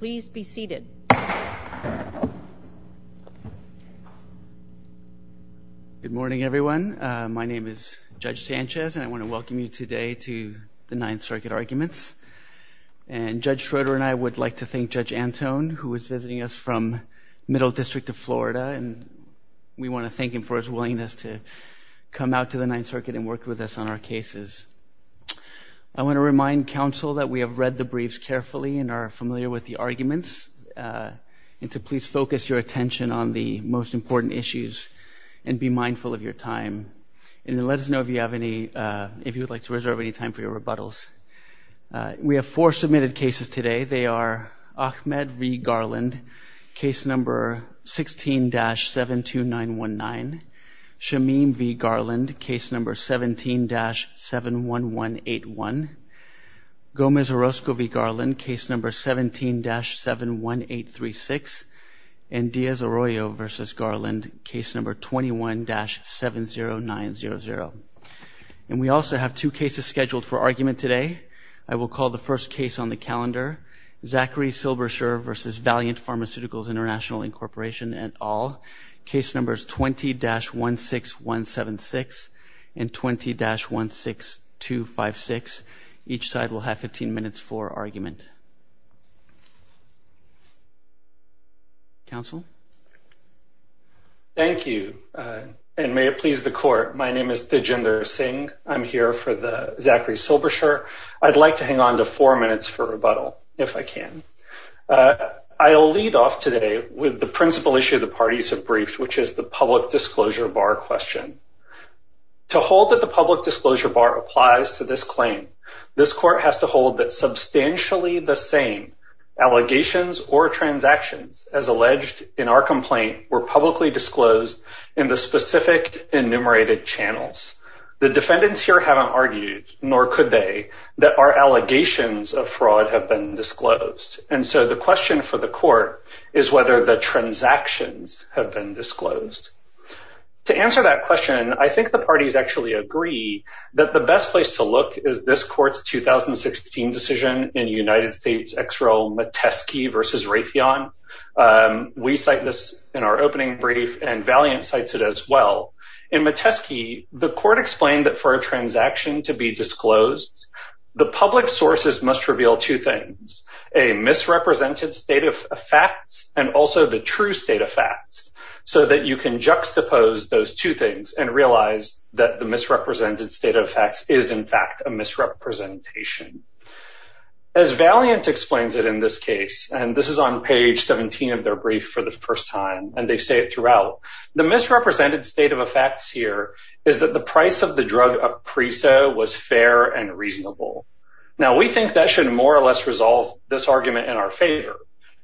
Please be seated. and I want to welcome you today to the Ninth Circuit Arguments. who is visiting us from Middle District of Florida, and we want to thank him for his willingness to come out to the Ninth Circuit and work with us on our cases. I want to remind counsel that we have read the briefs carefully and are familiar with the arguments, and to please focus your attention on the most important issues and be mindful of your time. And let us know if you have any, if you would like to reserve any time for your rebuttals. We have four submitted cases today. They are Ahmed v. Garland, Case No. 16-72919, Shamim v. Garland, Case No. 17-71181, Gomez Orozco v. Garland, Case No. 17-71836, and Diaz Arroyo v. Garland, Case No. 21-70900. And we also have two cases scheduled for argument today. I will call the first case on the calendar, Zachary Silberscher v. Valiant Pharmaceuticals International Incorporation et al., Case Numbers 20-16176 and 20-16256. Each side will have 15 minutes for argument. Counsel? Thank you, and may it please the Court. My name is Diginder Singh. I'm here for Zachary Silberscher. I'd like to hang on to four minutes for rebuttal, if I can. I'll lead off today with the principal issue the parties have briefed, which is the public disclosure bar question. To hold that the public disclosure bar applies to this claim, this Court has to hold that substantially the same allegations or transactions, as alleged in our complaint, were publicly disclosed in the specific enumerated channels. The defendants here haven't argued, nor could they, that our allegations of fraud have been disclosed. And so the question for the Court is whether the transactions have been disclosed. To answer that question, I think the parties actually agree that the best place to look is this Court's We cite this in our opening brief, and Valiant cites it as well. In Metesky, the Court explained that for a transaction to be disclosed, the public sources must reveal two things, a misrepresented state of facts, and also the true state of facts, so that you can juxtapose those two things and realize that the misrepresented state of facts is, in fact, a misrepresentation. As Valiant explains it in this case, and this is on page 17 of their brief for the first time, and they say it throughout, the misrepresented state of facts here is that the price of the drug Aprizo was fair and reasonable. Now, we think that should more or less resolve this argument in our favor,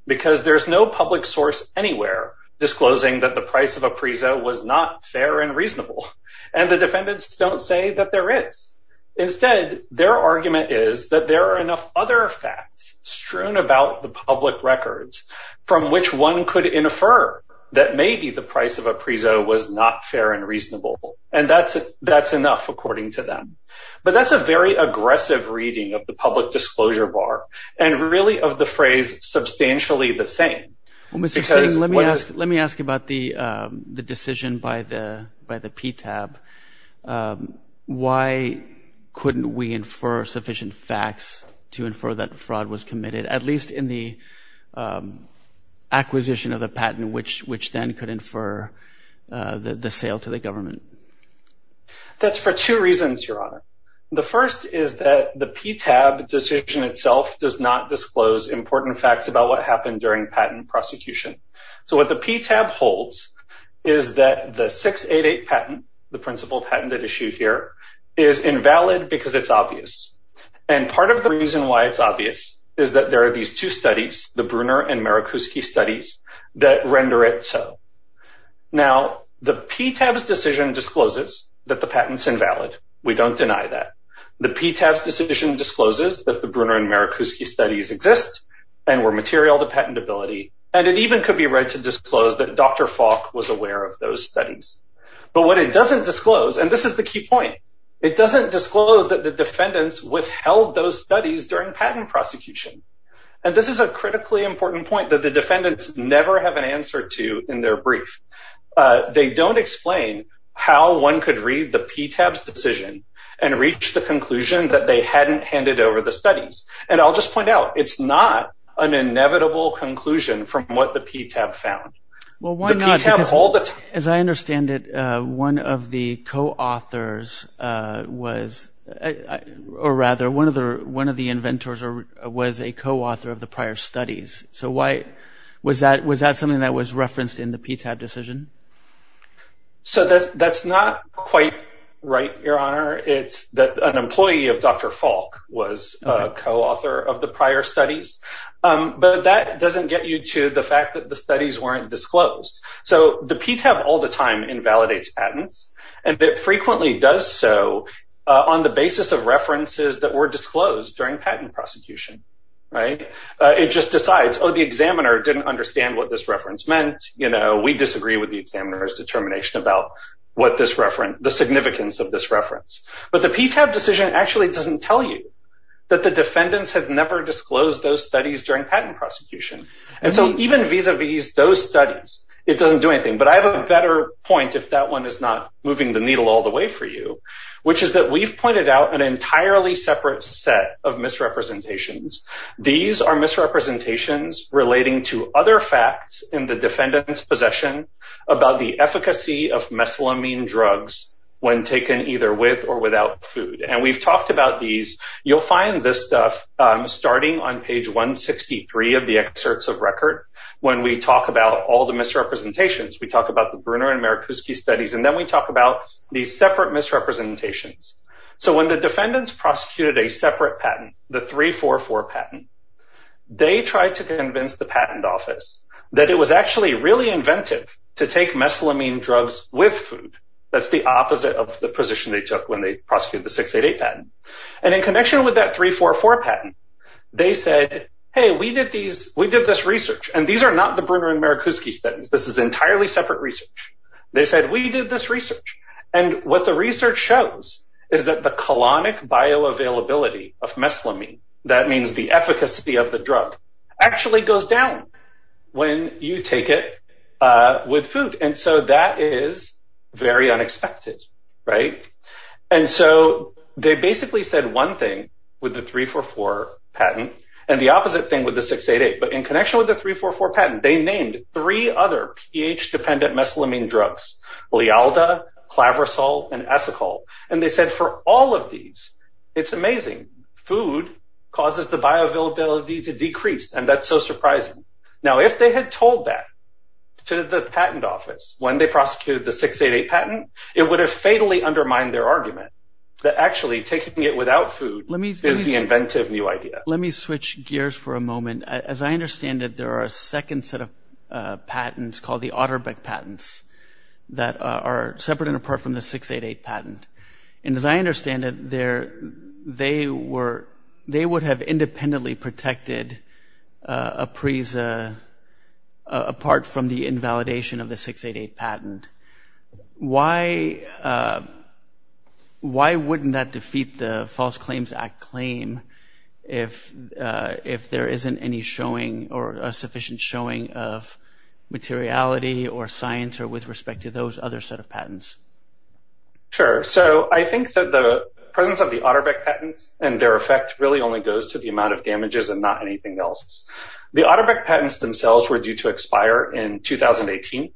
because there's no public source anywhere disclosing that the price of Aprizo was not fair and reasonable, and the defendants don't say that there is. Instead, their argument is that there are enough other facts strewn about the public records from which one could infer that maybe the price of Aprizo was not fair and reasonable, and that's enough, according to them. But that's a very aggressive reading of the public disclosure bar, and really of the phrase, substantially the same. Well, Mr. Singh, let me ask about the decision by the PTAB. Why couldn't we infer sufficient facts to infer that fraud was committed, at least in the acquisition of the patent, which then could infer the sale to the government? That's for two reasons, Your Honor. The first is that the PTAB decision itself does not disclose important facts about what happened during patent prosecution. So what the PTAB holds is that the 688 patent, the principled patent that is issued here, is invalid because it's obvious. And part of the reason why it's obvious is that there are these two studies, the Bruner and Marikuski studies, that render it so. Now, the PTAB's decision discloses that the patent's invalid. We don't deny that. The PTAB's decision discloses that the Bruner and Marikuski studies exist and were material to patentability, and it even could be read to disclose that Dr. Falk was aware of those studies. But what it doesn't disclose, and this is the key point, it doesn't disclose that the defendants withheld those studies during patent prosecution. And this is a critically important point that the defendants never have an answer to in their brief. They don't explain how one could read the PTAB's decision and reach the conclusion that they hadn't handed over the studies. And I'll just point out, it's not an inevitable conclusion from what the PTAB found. The PTAB all the time— Well, why not? Because as I understand it, one of the co-authors was— or rather, one of the inventors was a co-author of the prior studies. So why—was that something that was referenced in the PTAB decision? So that's not quite right, Your Honor. It's that an employee of Dr. Falk was a co-author of the prior studies. But that doesn't get you to the fact that the studies weren't disclosed. So the PTAB all the time invalidates patents, and it frequently does so on the basis of references that were disclosed during patent prosecution. It just decides, oh, the examiner didn't understand what this reference meant. You know, we disagree with the examiner's determination about what this reference— the significance of this reference. But the PTAB decision actually doesn't tell you that the defendants had never disclosed those studies during patent prosecution. And so even vis-a-vis those studies, it doesn't do anything. But I have a better point, if that one is not moving the needle all the way for you, which is that we've pointed out an entirely separate set of misrepresentations. These are misrepresentations relating to other facts in the defendant's possession about the efficacy of meslamine drugs when taken either with or without food. And we've talked about these. You'll find this stuff starting on page 163 of the excerpts of record when we talk about all the misrepresentations. We talk about the Bruner and Merikuski studies, and then we talk about these separate misrepresentations. So when the defendants prosecuted a separate patent, the 344 patent, they tried to convince the patent office that it was actually really inventive to take meslamine drugs with food. That's the opposite of the position they took when they prosecuted the 688 patent. And in connection with that 344 patent, they said, hey, we did this research. And these are not the Bruner and Merikuski studies. This is entirely separate research. They said, we did this research. And what the research shows is that the colonic bioavailability of meslamine, that means the efficacy of the drug, actually goes down when you take it with food. And so that is very unexpected. And so they basically said one thing with the 344 patent and the opposite thing with the 688. But in connection with the 344 patent, they named three other pH-dependent meslamine drugs, Lealda, Clavrasol, and Esacol. And they said for all of these, it's amazing. Food causes the bioavailability to decrease, and that's so surprising. Now, if they had told that to the patent office when they prosecuted the 688 patent, it would have fatally undermined their argument that actually taking it without food is the inventive new idea. Let me switch gears for a moment. As I understand it, there are a second set of patents called the Otterbeck patents that are separate and apart from the 688 patent. And as I understand it, they would have independently protected APRESA apart from the invalidation of the 688 patent. Why wouldn't that defeat the False Claims Act claim if there isn't any showing or sufficient showing of materiality or science with respect to those other set of patents? Sure. So I think that the presence of the Otterbeck patents and their effect really only goes to the amount of damages and not anything else. The Otterbeck patents themselves were due to expire in 2018,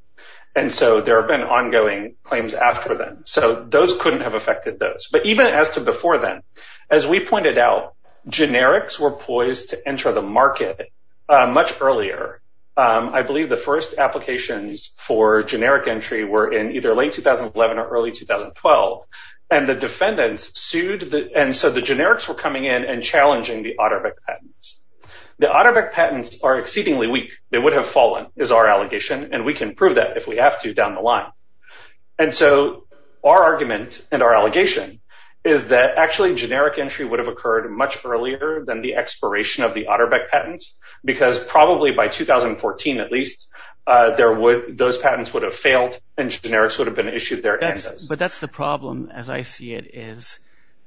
and so there have been ongoing claims after them. So those couldn't have affected those. But even as to before then, as we pointed out, generics were poised to enter the market much earlier. I believe the first applications for generic entry were in either late 2011 or early 2012, and the defendants sued. And so the generics were coming in and challenging the Otterbeck patents. The Otterbeck patents are exceedingly weak. They would have fallen is our allegation, and we can prove that if we have to down the line. And so our argument and our allegation is that actually generic entry would have occurred much earlier than the expiration of the Otterbeck patents because probably by 2014 at least, those patents would have failed and generics would have been issued there. But that's the problem, as I see it, is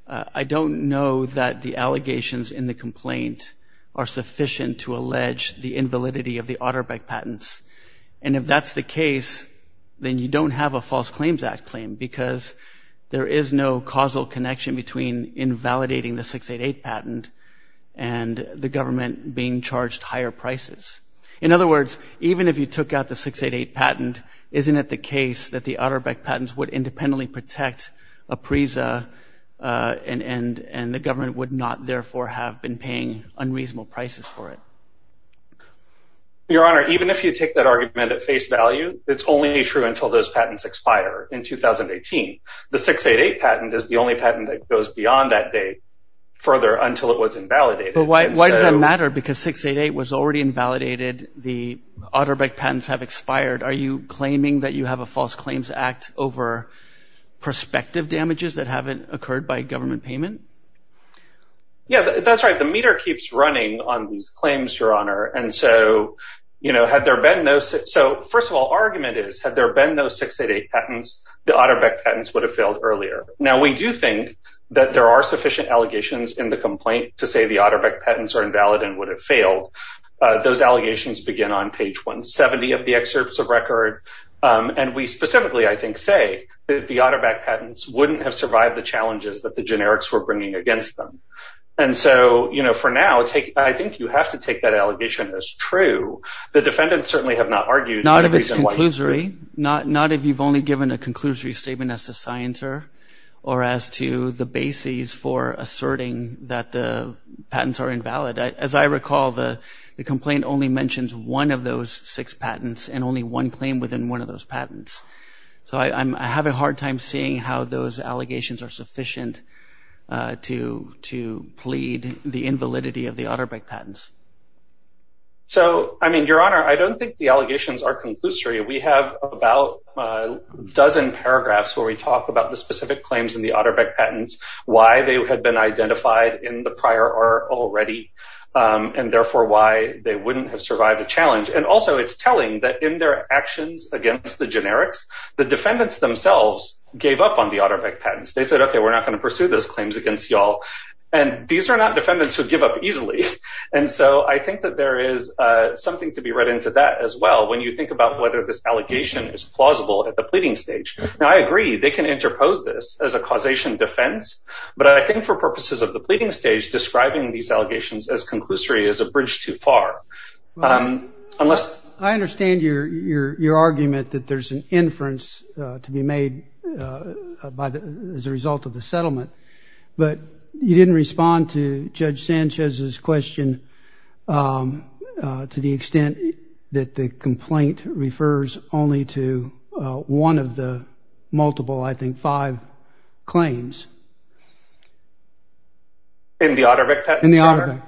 I don't know that the allegations in the complaint are sufficient to allege the invalidity of the Otterbeck patents. And if that's the case, then you don't have a False Claims Act claim because there is no causal connection between invalidating the 688 patent and the government being charged higher prices. In other words, even if you took out the 688 patent, isn't it the case that the Otterbeck patents would independently protect APRESA and the government would not therefore have been paying unreasonable prices for it? Your Honor, even if you take that argument at face value, it's only true until those patents expire in 2018. The 688 patent is the only patent that goes beyond that date further until it was invalidated. But why does that matter because 688 was already invalidated? The Otterbeck patents have expired. Are you claiming that you have a False Claims Act over prospective damages that haven't occurred by government payment? Yeah, that's right. The meter keeps running on these claims, Your Honor. And so, you know, had there been those – so first of all, our argument is had there been those 688 patents, the Otterbeck patents would have failed earlier. Now, we do think that there are sufficient allegations in the complaint to say the Otterbeck patents are invalid and would have failed. Those allegations begin on page 170 of the excerpts of record. And we specifically, I think, say that the Otterbeck patents wouldn't have survived the challenges that the generics were bringing against them. And so, you know, for now, I think you have to take that allegation as true. The defendants certainly have not argued. Not if it's conclusory. Not if you've only given a conclusory statement as to Scienter or as to the basis for asserting that the patents are invalid. As I recall, the complaint only mentions one of those six patents and only one claim within one of those patents. So I'm having a hard time seeing how those allegations are sufficient to plead the invalidity of the Otterbeck patents. So, I mean, Your Honor, I don't think the allegations are conclusory. We have about a dozen paragraphs where we talk about the specific claims in the Otterbeck patents, why they had been identified in the prior are already and therefore why they wouldn't have survived the challenge. And also it's telling that in their actions against the generics, the defendants themselves gave up on the Otterbeck patents. They said, OK, we're not going to pursue those claims against you all. And these are not defendants who give up easily. And so I think that there is something to be read into that as well. When you think about whether this allegation is plausible at the pleading stage. Now, I agree they can interpose this as a causation defense. But I think for purposes of the pleading stage, describing these allegations as conclusory is a bridge too far. I understand your argument that there's an inference to be made as a result of the settlement. But you didn't respond to Judge Sanchez's question to the extent that the complaint refers only to one of the multiple, I think, five claims. In the Otterbeck patents? In the Otterbeck,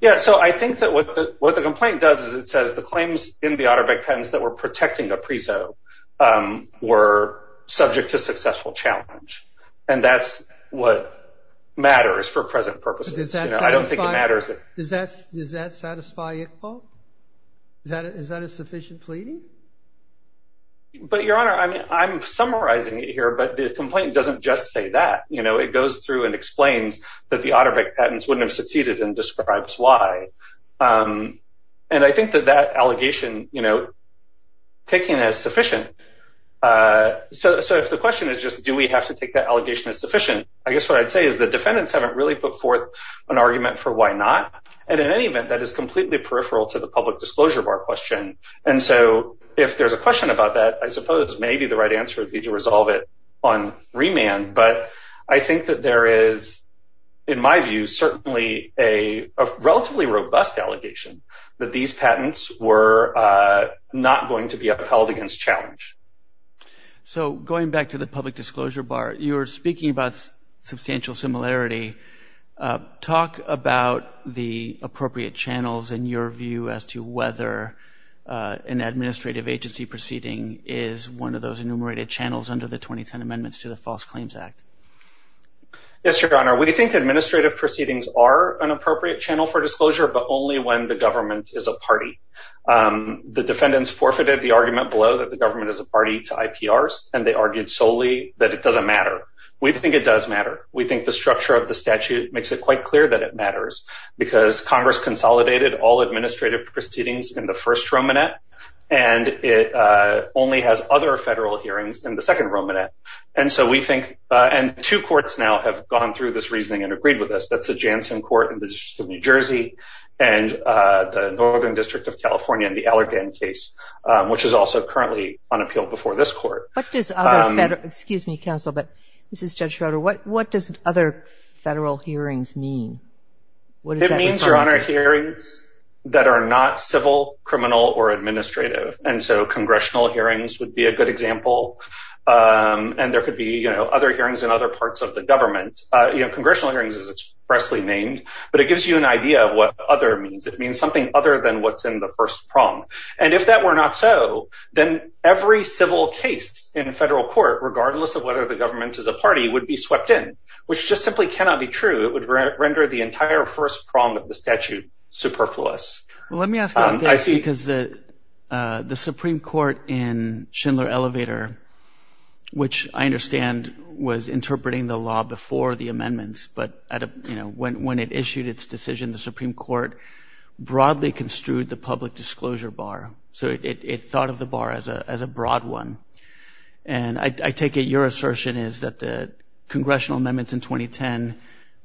yeah. So I think that what the complaint does is it says the claims in the Otterbeck patents that were protecting Aprizo were subject to successful challenge. And that's what matters for present purposes. I don't think it matters. Does that satisfy Iqbal? Is that a sufficient pleading? But, Your Honor, I'm summarizing it here. But the complaint doesn't just say that. It goes through and explains that the Otterbeck patents wouldn't have succeeded and describes why. And I think that that allegation taken as sufficient. So if the question is just do we have to take that allegation as sufficient, I guess what I'd say is the defendants haven't really put forth an argument for why not. And in any event, that is completely peripheral to the public disclosure bar question. And so if there's a question about that, I suppose maybe the right answer would be to resolve it on remand. But I think that there is, in my view, certainly a relatively robust allegation that these patents were not going to be upheld against challenge. So going back to the public disclosure bar, you were speaking about substantial similarity. Talk about the appropriate channels in your view as to whether an administrative agency proceeding is one of those enumerated channels under the 2010 Amendments to the False Claims Act. Yes, Your Honor. We think administrative proceedings are an appropriate channel for disclosure, but only when the government is a party. The defendants forfeited the argument below that the government is a party to IPRs, and they argued solely that it doesn't matter. We think it does matter. We think the structure of the statute makes it quite clear that it matters, because Congress consolidated all administrative proceedings in the first Romanette, and it only has other federal hearings in the second Romanette. And two courts now have gone through this reasoning and agreed with us. That's the Janssen Court in the District of New Jersey and the Northern District of California in the Allergan case, which is also currently on appeal before this court. Excuse me, Counsel, but this is Judge Schroeder. What does other federal hearings mean? It means, Your Honor, hearings that are not civil, criminal, or administrative. And so congressional hearings would be a good example, and there could be, you know, other hearings in other parts of the government. You know, congressional hearings is expressly named, but it gives you an idea of what other means. It means something other than what's in the first prong. And if that were not so, then every civil case in a federal court, regardless of whether the government is a party, would be swept in, which just simply cannot be true. It would render the entire first prong of the statute superfluous. Well, let me ask about that, because the Supreme Court in Schindler-Elevator, which I understand was interpreting the law before the amendments, but when it issued its decision, the Supreme Court broadly construed the public disclosure bar. So it thought of the bar as a broad one. And I take it your assertion is that the congressional amendments in 2010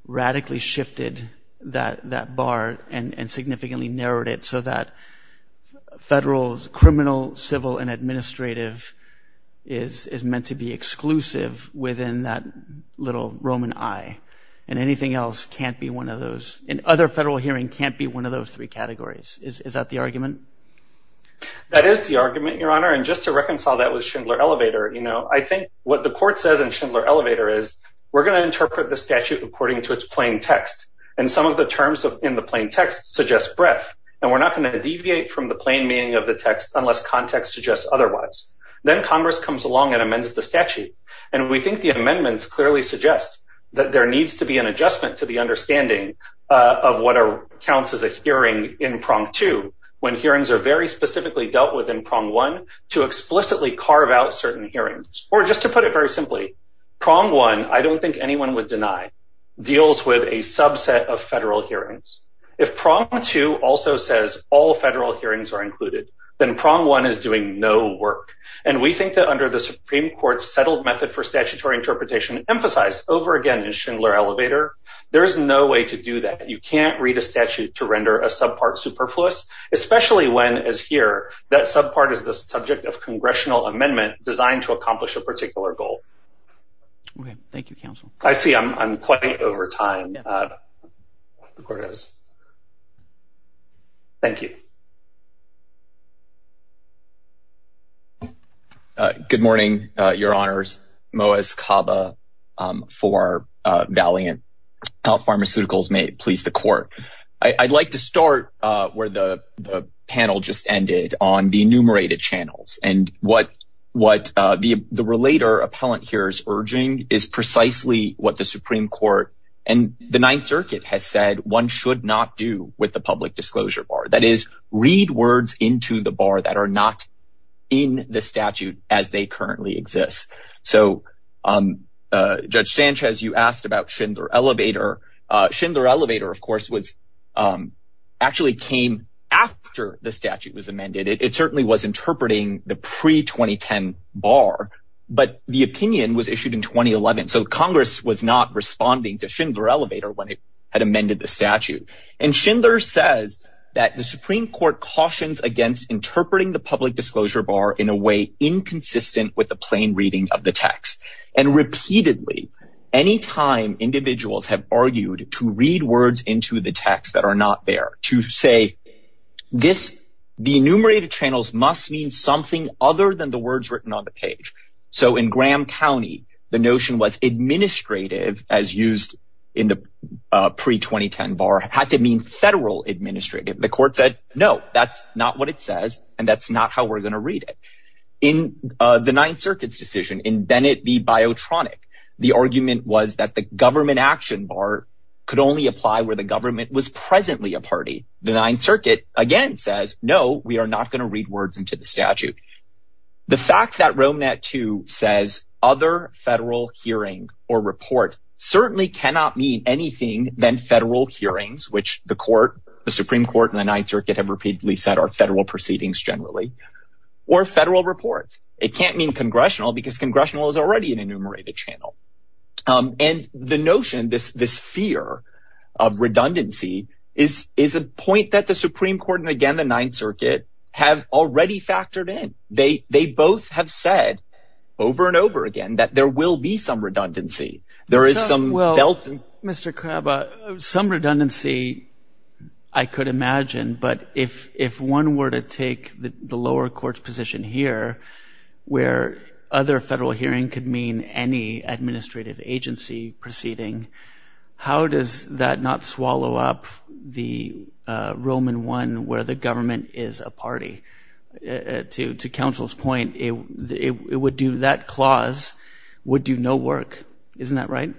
radically shifted that bar and significantly narrowed it so that federal, criminal, civil, and administrative is meant to be exclusive within that little Roman I. And anything else can't be one of those. And other federal hearings can't be one of those three categories. Is that the argument? That is the argument, Your Honor. And just to reconcile that with Schindler-Elevator, you know, I think what the court says in Schindler-Elevator is we're going to interpret the statute according to its plain text. And some of the terms in the plain text suggest breadth. And we're not going to deviate from the plain meaning of the text unless context suggests otherwise. Then Congress comes along and amends the statute. And we think the amendments clearly suggest that there needs to be an adjustment to the understanding of what counts as a hearing in prong two, when hearings are very specifically dealt with in prong one to explicitly carve out certain hearings. Or just to put it very simply, prong one, I don't think anyone would deny, deals with a subset of federal hearings. If prong two also says all federal hearings are included, then prong one is doing no work. And we think that under the Supreme Court's settled method for statutory interpretation emphasized over again in Schindler-Elevator, there is no way to do that. You can't read a statute to render a subpart superfluous, especially when, as here, that subpart is the subject of congressional amendment designed to accomplish a particular goal. Thank you, counsel. I see I'm quite over time. Thank you. Good morning, Your Honors. Moaz Kaba for Valiant Health Pharmaceuticals, may it please the court. I'd like to start where the panel just ended on the enumerated channels. And what what the the relator appellant here is urging is precisely what the Supreme Court and the Ninth Circuit has said one should not do with the public disclosure bar. That is, read words into the bar that are not in the statute as they currently exist. So Judge Sanchez, you asked about Schindler-Elevator. Schindler-Elevator, of course, was actually came after the statute was amended. It certainly was interpreting the pre 2010 bar, but the opinion was issued in 2011. So Congress was not responding to Schindler-Elevator when it had amended the statute. And Schindler says that the Supreme Court cautions against interpreting the public disclosure bar in a way inconsistent with the plain reading of the text. And repeatedly, any time individuals have argued to read words into the text that are not there to say this, the enumerated channels must mean something other than the words written on the page. So in Graham County, the notion was administrative as used in the pre 2010 bar had to mean federal administrative. The court said, no, that's not what it says and that's not how we're going to read it. In the Ninth Circuit's decision in Bennett v. Biotronic, the argument was that the government action bar could only apply where the government was presently a party. The Ninth Circuit again says, no, we are not going to read words into the statute. The fact that Rome Nat 2 says other federal hearing or report certainly cannot mean anything than federal hearings, which the court, the Supreme Court and the Ninth Circuit have repeatedly said are federal proceedings generally or federal reports. It can't mean congressional because congressional is already an enumerated channel. And the notion this this fear of redundancy is is a point that the Supreme Court and again the Ninth Circuit have already factored in. They they both have said over and over again that there will be some redundancy. Well, Mr. Crabaugh, some redundancy I could imagine. But if if one were to take the lower court's position here where other federal hearing could mean any administrative agency proceeding, how does that not swallow up the Roman one where the government is a party to to counsel's point? It would do that clause would do no work. Isn't that right?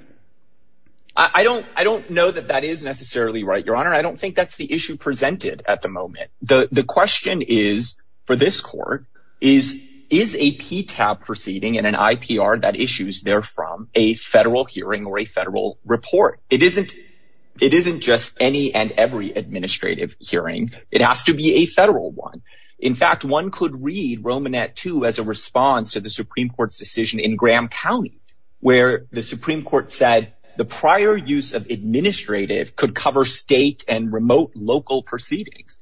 I don't I don't know that that is necessarily right. Your Honor, I don't think that's the issue presented at the moment. The question is for this court is is a PTAB proceeding and an IPR that issues there from a federal hearing or a federal report? It isn't it isn't just any and every administrative hearing. It has to be a federal one. In fact, one could read Roman at two as a response to the Supreme Court's decision in Graham County, where the Supreme Court said the prior use of administrative could cover state and remote local proceedings.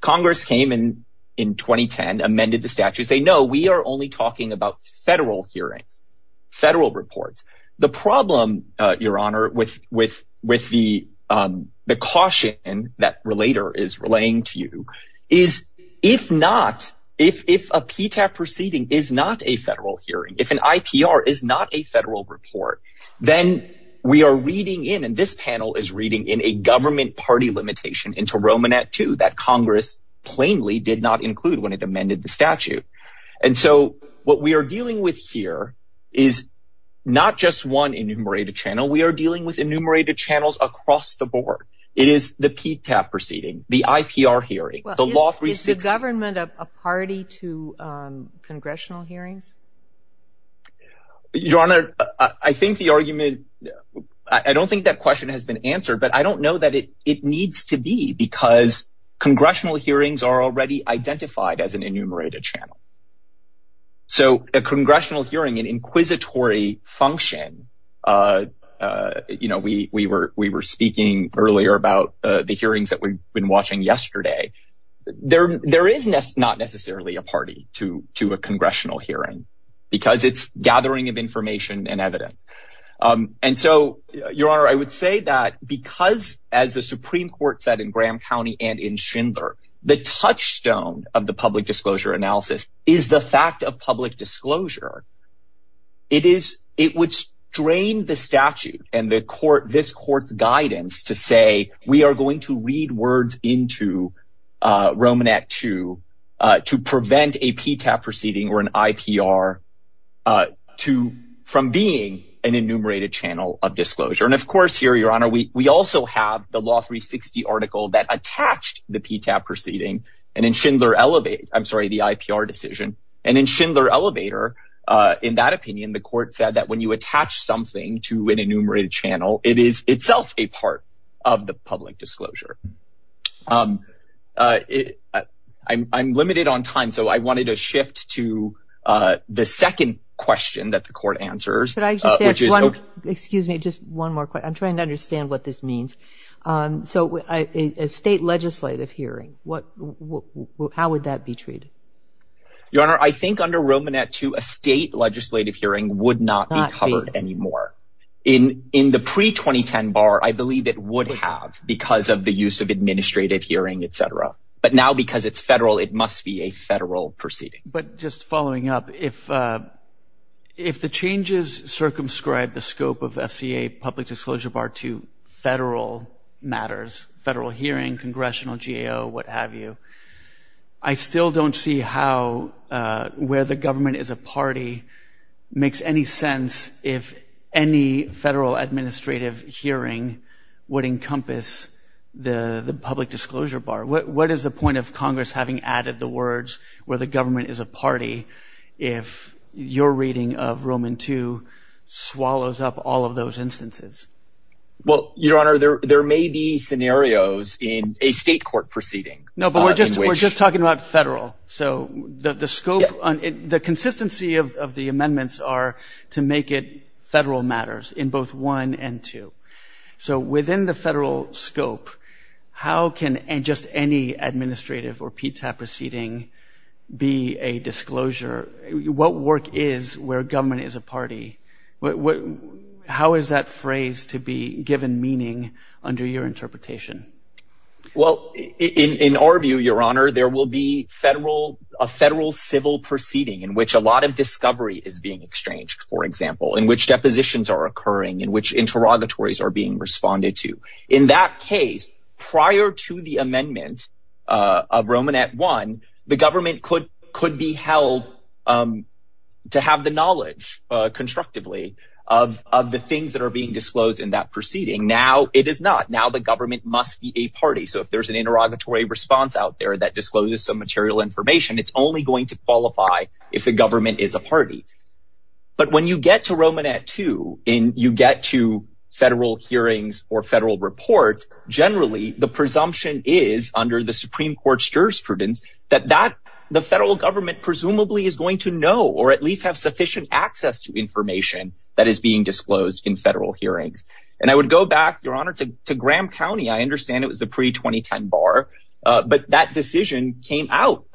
Congress came in in 2010, amended the statute. They know we are only talking about federal hearings, federal reports. Your Honor, with with with the the caution that relator is relaying to you is if not, if if a PTAB proceeding is not a federal hearing, if an IPR is not a federal report, then we are reading in. And this panel is reading in a government party limitation into Roman at two that Congress plainly did not include when it amended the statute. And so what we are dealing with here is not just one enumerated channel. We are dealing with enumerated channels across the board. It is the PTAB proceeding, the IPR hearing, the law. Three is the government of a party to congressional hearings. Your Honor, I think the argument I don't think that question has been answered. But I don't know that it it needs to be because congressional hearings are already identified as an enumerated channel. So a congressional hearing, an inquisitory function, you know, we we were we were speaking earlier about the hearings that we've been watching yesterday. There there is not necessarily a party to to a congressional hearing because it's gathering of information and evidence. And so, Your Honor, I would say that because, as the Supreme Court said in Graham County and in Schindler, the touchstone of the public disclosure analysis is the fact of public disclosure. It is it would strain the statute and the court, this court's guidance to say we are going to read words into Roman at two to prevent a PTAB proceeding or an IPR to from being an enumerated channel of disclosure. And of course, here, Your Honor, we we also have the law 360 article that attached the PTAB proceeding and in Schindler Elevate. I'm sorry, the IPR decision and in Schindler Elevator. In that opinion, the court said that when you attach something to an enumerated channel, it is itself a part of the public disclosure. I'm limited on time, so I wanted to shift to the second question that the court answers. Excuse me, just one more. I'm trying to understand what this means. So a state legislative hearing. What? How would that be treated? Your Honor, I think under Roman at two, a state legislative hearing would not be covered anymore in in the pre 2010 bar. I believe it would have because of the use of administrative hearing, et cetera. But now, because it's federal, it must be a federal proceeding. But just following up, if if the changes circumscribe the scope of FCA public disclosure bar to federal matters, federal hearing, congressional GAO, what have you. I still don't see how where the government is a party makes any sense. If any federal administrative hearing would encompass the public disclosure bar. What is the point of Congress having added the words where the government is a party if your reading of Roman to swallows up all of those instances? Well, Your Honor, there there may be scenarios in a state court proceeding. No, but we're just we're just talking about federal. So the scope, the consistency of the amendments are to make it federal matters in both one and two. So within the federal scope, how can just any administrative or PTA proceeding be a disclosure? What work is where government is a party? But how is that phrase to be given meaning under your interpretation? Well, in our view, Your Honor, there will be federal a federal civil proceeding in which a lot of discovery is being exchanged, for example, in which depositions are occurring, in which interrogatories are being responded to. In that case, prior to the amendment of Roman at one, the government could could be held to have the knowledge constructively of the things that are being disclosed in that proceeding. Now, it is not now the government must be a party. So if there's an interrogatory response out there that discloses some material information, it's only going to qualify if the government is a party. But when you get to Roman at two and you get to federal hearings or federal reports, generally the presumption is under the Supreme Court's jurisprudence that that the federal government presumably is going to know or at least have sufficient access to information that is being disclosed in federal hearings. And I would go back, Your Honor, to Graham County. I understand it was the pre 2010 bar, but that decision came out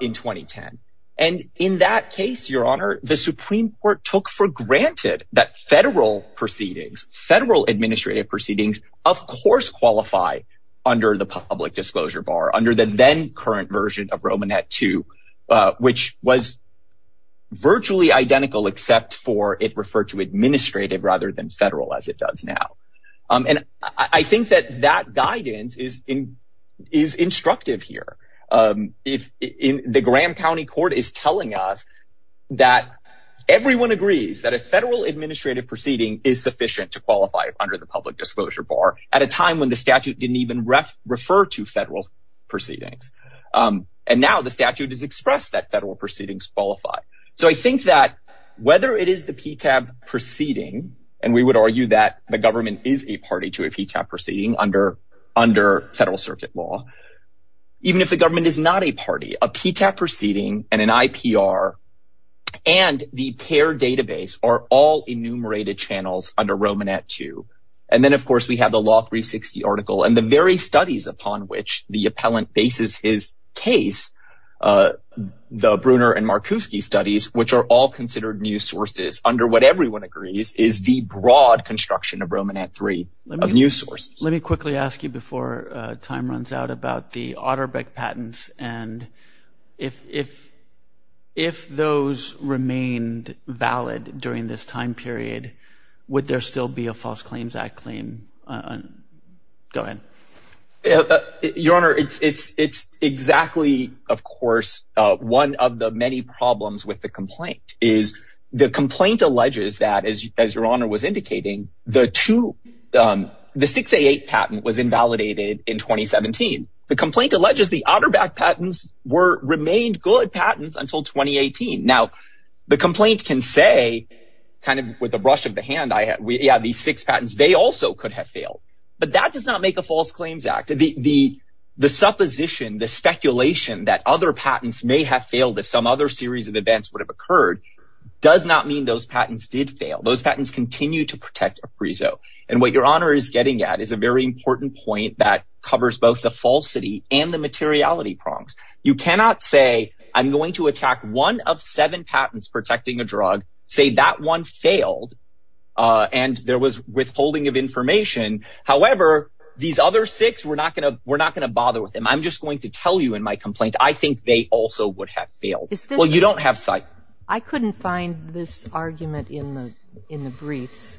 in 2010. And in that case, Your Honor, the Supreme Court took for granted that federal proceedings, federal administrative proceedings, of course, qualify under the public disclosure bar under the then current version of Roman at two, which was virtually identical, except for it referred to administrative rather than federal, as it does now. And I think that that guidance is in is instructive here. If the Graham County court is telling us that everyone agrees that a federal administrative proceeding is sufficient to qualify under the public disclosure bar at a time when the statute didn't even refer to federal proceedings. And now the statute is expressed that federal proceedings qualify. So I think that whether it is the PTAB proceeding and we would argue that the government is a party to a PTAB proceeding under under federal circuit law, even if the government is not a party, a PTAB proceeding and an IPR and the pair database are all enumerated channels under Roman at two. And then, of course, we have the law 360 article and the very studies upon which the appellant bases his case, the Bruner and Markowski studies, which are all considered new sources under what everyone agrees is the broad construction of Roman at three of new sources. Let me quickly ask you before time runs out about the Otterbeck patents and if if if those remained valid during this time period, would there still be a False Claims Act claim? Go ahead. Your Honor, it's it's it's exactly, of course, one of the many problems with the complaint is the complaint alleges that, as your honor was indicating, the two the six eight patent was invalidated in twenty seventeen. The complaint alleges the Otterbeck patents were remained good patents until twenty eighteen. Now the complaint can say kind of with the brush of the hand. I have these six patents. They also could have failed, but that does not make a False Claims Act. The the the supposition, the speculation that other patents may have failed if some other series of events would have occurred does not mean those patents did fail. Those patents continue to protect appraisal. And what your honor is getting at is a very important point that covers both the falsity and the materiality prongs. You cannot say I'm going to attack one of seven patents protecting a drug, say that one failed and there was withholding of information. However, these other six, we're not going to we're not going to bother with them. I'm just going to tell you in my complaint, I think they also would have failed. Well, you don't have sight. I couldn't find this argument in the in the briefs.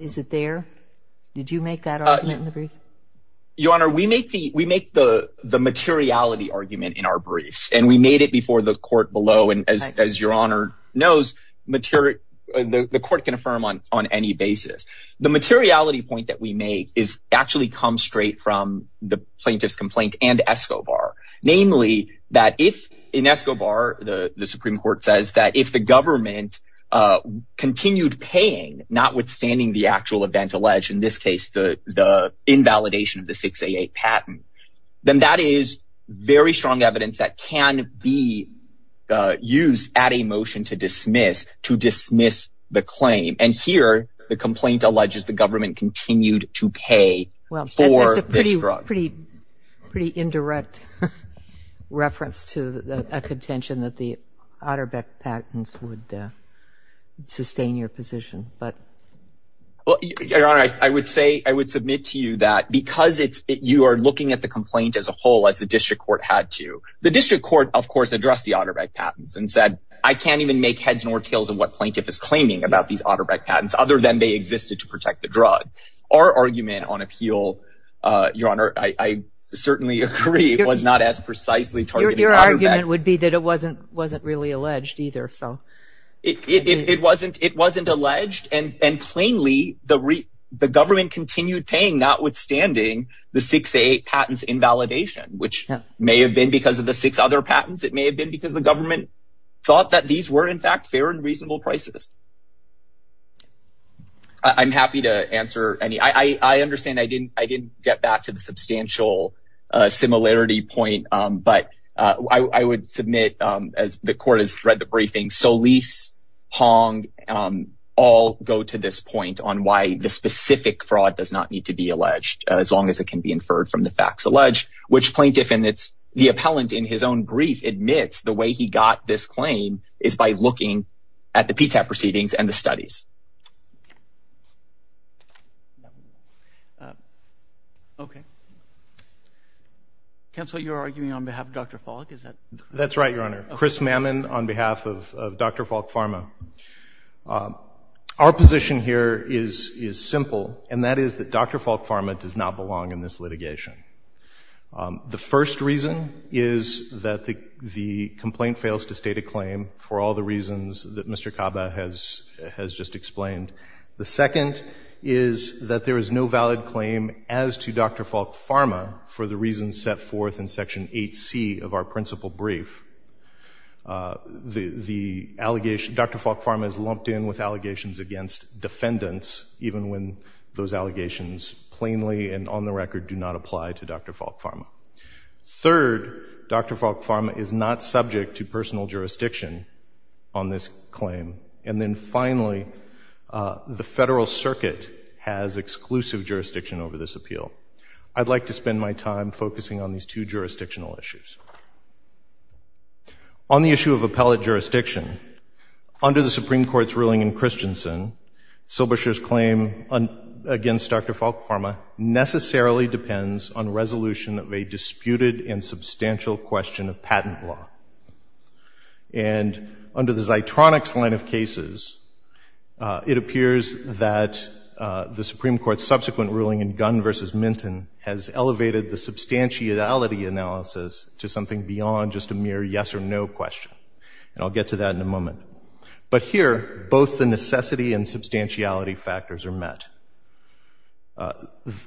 Is it there? Did you make that argument? Your honor, we make the we make the the materiality argument in our briefs and we made it before the court below. And as your honor knows, the court can affirm on on any basis. The materiality point that we make is actually come straight from the plaintiff's complaint and Escobar, namely that if in Escobar, the Supreme Court says that if the government continued paying, notwithstanding the actual event alleged in this case, the the invalidation of the 688 patent, then that is very strong evidence that can be used at a motion to dismiss to dismiss the claim. And here the complaint alleges the government continued to pay. Well, that's a pretty, pretty, pretty indirect reference to a contention that the Otterbeck patents would sustain your position. But your honor, I would say I would submit to you that because it's you are looking at the complaint as a whole, as the district court had to the district court, of course, address the Otterbeck patents and said, I can't even make heads nor tails of what plaintiff is claiming about these Otterbeck patents other than they existed to protect the drug. Our argument on appeal, your honor, I certainly agree was not as precisely targeted. Your argument would be that it wasn't wasn't really alleged either. So it wasn't it wasn't alleged. And plainly, the the government continued paying, notwithstanding the 688 patents invalidation, which may have been because of the six other patents. It may have been because the government thought that these were, in fact, fair and reasonable prices. I'm happy to answer any I understand. I didn't I didn't get back to the substantial similarity point. But I would submit as the court has read the briefing. So lease Hong all go to this point on why the specific fraud does not need to be alleged as long as it can be inferred from the facts alleged, which plaintiff and it's the appellant in his own brief admits the way he got this claim is by looking at the proceedings and the studies. OK. Counsel, you're arguing on behalf of Dr. Falk. That's right, your honor. Chris Mammon on behalf of Dr. Falk Pharma. Our position here is is simple, and that is that Dr. Falk Pharma does not belong in this litigation. The first reason is that the the complaint fails to state a claim for all the reasons that Mr. Kaba has has just explained. The second is that there is no valid claim as to Dr. Falk Pharma for the reasons set forth in Section 8C of our principal brief. The the allegation Dr. Falk Pharma is lumped in with allegations against defendants, even when those allegations plainly and on the record do not apply to Dr. Falk Pharma. Third, Dr. Falk Pharma is not subject to personal jurisdiction on this claim. And then finally, the federal circuit has exclusive jurisdiction over this appeal. I'd like to spend my time focusing on these two jurisdictional issues. On the issue of appellate jurisdiction, under the Supreme Court's ruling in Christensen, Silberscher's claim against Dr. Falk Pharma necessarily depends on resolution of a disputed and substantial question of patent law. And under the Zeitronics line of cases, it appears that the Supreme Court's subsequent ruling in Gunn v. Minton has elevated the substantiality analysis to something beyond just a mere yes or no question. And I'll get to that in a moment. But here, both the necessity and substantiality factors are met.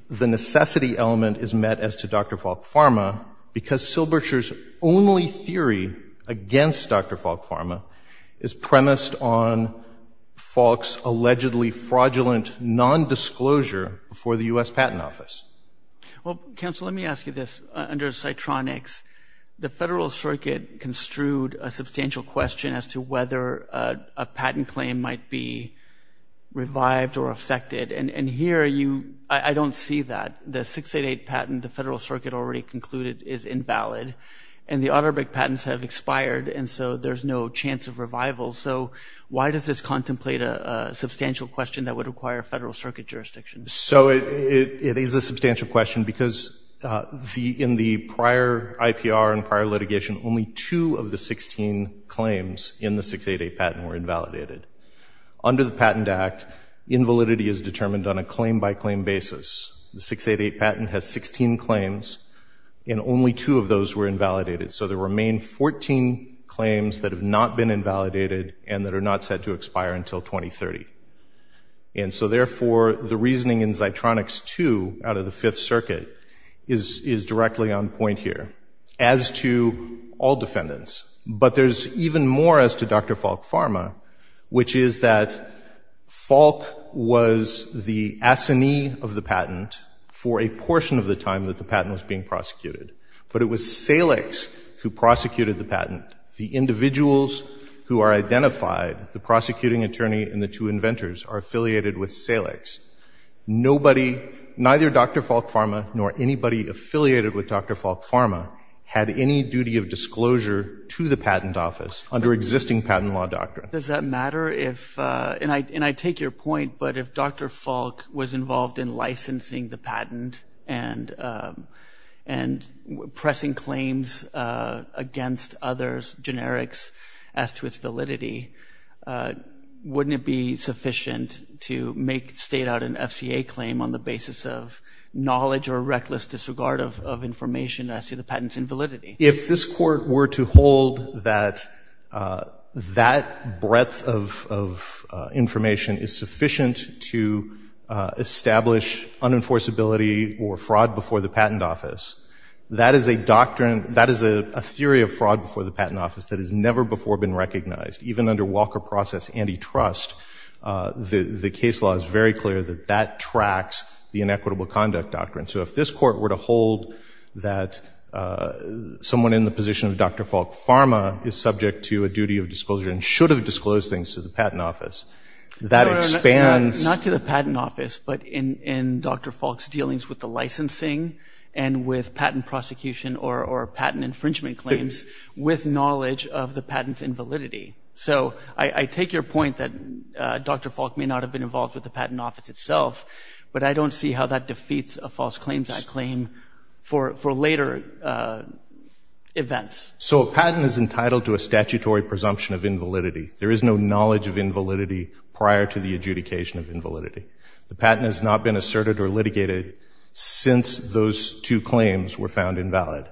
The necessity element is met as to Dr. Falk Pharma because Silberscher's only theory against Dr. Falk Pharma is premised on Falk's allegedly fraudulent nondisclosure for the U.S. Patent Office. Well, counsel, let me ask you this. Under Zeitronics, the federal circuit construed a substantial question as to whether a patent claim might be revived or affected. And here, I don't see that. The 688 patent the federal circuit already concluded is invalid. And the Otterbeck patents have been revival. So why does this contemplate a substantial question that would require federal circuit jurisdiction? So it is a substantial question because in the prior IPR and prior litigation, only two of the 16 claims in the 688 patent were invalidated. Under the Patent Act, invalidity is determined on a claim-by-claim basis. The 688 patent has 16 claims, and only two of those were invalidated and that are not set to expire until 2030. And so, therefore, the reasoning in Zeitronics 2 out of the Fifth Circuit is directly on point here as to all defendants. But there's even more as to Dr. Falk Pharma, which is that Falk was the assignee of the patent for a portion of the time that the patent was being prosecuted. But it was Salix who prosecuted the patent. The individuals who are identified, the prosecuting attorney and the two inventors, are affiliated with Salix. Nobody, neither Dr. Falk Pharma nor anybody affiliated with Dr. Falk Pharma, had any duty of disclosure to the patent office under existing patent law doctrine. Does that matter if, and I take your point, but if Dr. Falk was involved in licensing the patent and pressing claims against others, generics, as to its validity, wouldn't it be sufficient to make, state out an FCA claim on the basis of knowledge or reckless disregard of information as to the patent's invalidity? If this Court were to hold that that breadth of information is sufficient to establish unenforceability or fraud before the patent office, that is a doctrine, that is a theory of fraud before the patent office that has never before been recognized. Even under Walker Process Antitrust, the case law is very clear that that tracks the inequitable conduct doctrine. So if this Court were to hold that someone in the position of Dr. Falk Pharma is subject to a duty of disclosure and should have disclosed things to the patent office, that expands Not to the patent office, but in Dr. Falk's dealings with the licensing and with patent prosecution or patent infringement claims, with knowledge of the patent's invalidity. So I take your point that Dr. Falk may not have been involved with the patent office itself, but I don't see how that defeats a false claims act claim for later events. So a patent is entitled to a statutory presumption of invalidity. There is no knowledge of invalidity prior to the adjudication of invalidity. The patent has not been asserted or litigated since those two claims were found invalid.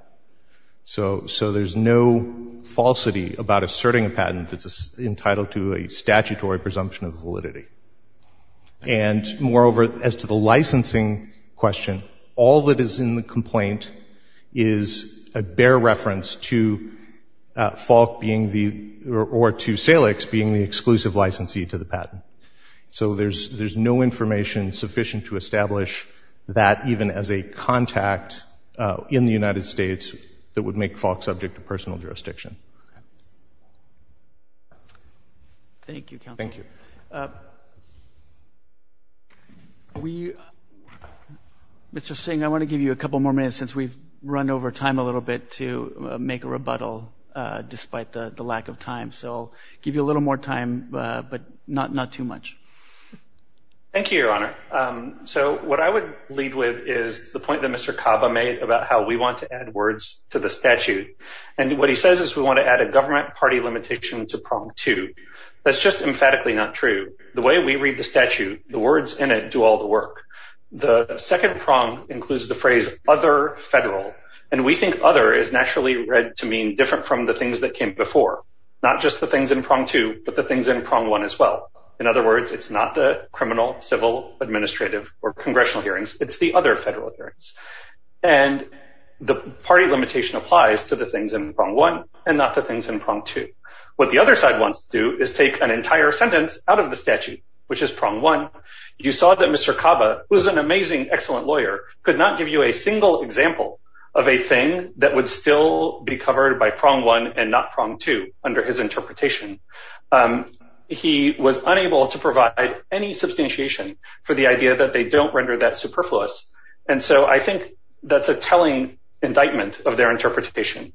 So there's no falsity about asserting a patent that's entitled to a statutory presumption of validity. And moreover, as to the licensing question, all that is in the complaint is a bare reference to Falk being the, or to Salix being the exclusive licensee to the patent. So there's no information sufficient to establish that even as a contact in the United States that would make Falk subject to personal jurisdiction. Thank you, counsel. Mr. Singh, I want to give you a couple more minutes since we've run over time a little bit to make a rebuttal despite the lack of time. So I'll give you a little more time, but not too much. Thank you, Your Honor. So what I would lead with is the point that Mr. Caba made about how we want to add words to the statute. And what he says is we want to add a government party limitation to prong two. That's just emphatically not true. The way we read the statute, the words in it do all the work. The second prong includes the phrase other federal. And we think other is naturally read to mean different from the things that came before. Not just the things in prong two, but the things in prong one as well. In other words, it's not the criminal, civil, administrative or congressional hearings. It's the other federal hearings. And the party limitation applies to the things in prong one and not the things in prong two. What the other side wants to do is take an entire sentence out of the statute, which is prong one. You saw that Mr. Caba, who is an amazing, excellent lawyer, could not give you a single example of a thing that would still be covered by prong one and not prong two under his interpretation. He was unable to provide any substantiation for the idea that they don't render that superfluous. And so I think that's a telling indictment of their interpretation.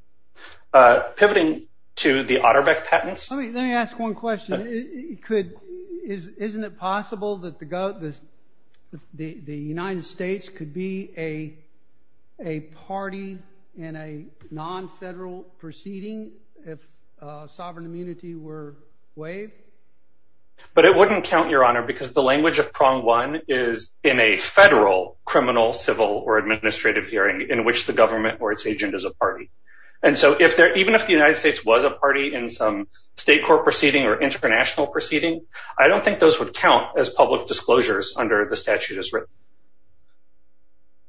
Pivoting to the Otterbeck patents. Let me ask one question. Isn't it possible that the United States could be a party in a non-federal proceeding if sovereign immunity were waived? But it wouldn't count, Your Honor, because the language of prong one is in a federal criminal, civil, or administrative hearing in which the government or its agent is a party. And so even if the United States was a party in some state court proceeding or international proceeding, I don't think those would count as public disclosures under the statute as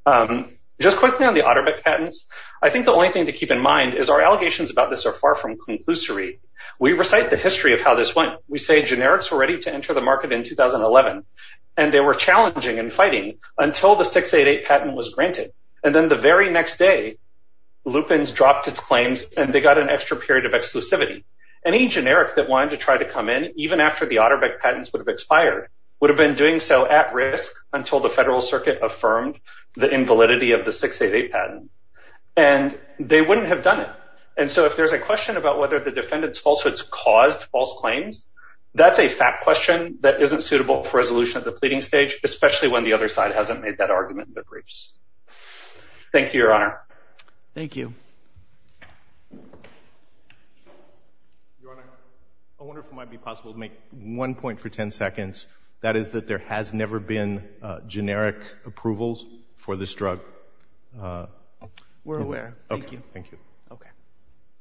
written. Just quickly on the Otterbeck patents, I think the only thing to keep in mind is our allegations about this are far from conclusory. We recite the history of how this went. We say generics were ready to enter the market in 2011, and they were challenging and fighting until the 688 patent was granted. And then the very next day, Lupin's dropped its claims and they got an extra period of exclusivity. Any generic that wanted to try to come in, even after the Otterbeck patents would have expired, would have been doing so at risk until the federal circuit affirmed the invalidity of the 688 patent. And they wouldn't have done it. And so if there's a question about whether the defendant's falsehoods caused false claims, that's a fat question that isn't suitable for resolution at the pleading stage, especially when the other side hasn't made that argument in their briefs. Thank you, Your Honor. Thank you. Your Honor, I wonder if it might be possible to make one point for 10 seconds. That is that there has never been generic approvals for this drug. We're aware. Thank you.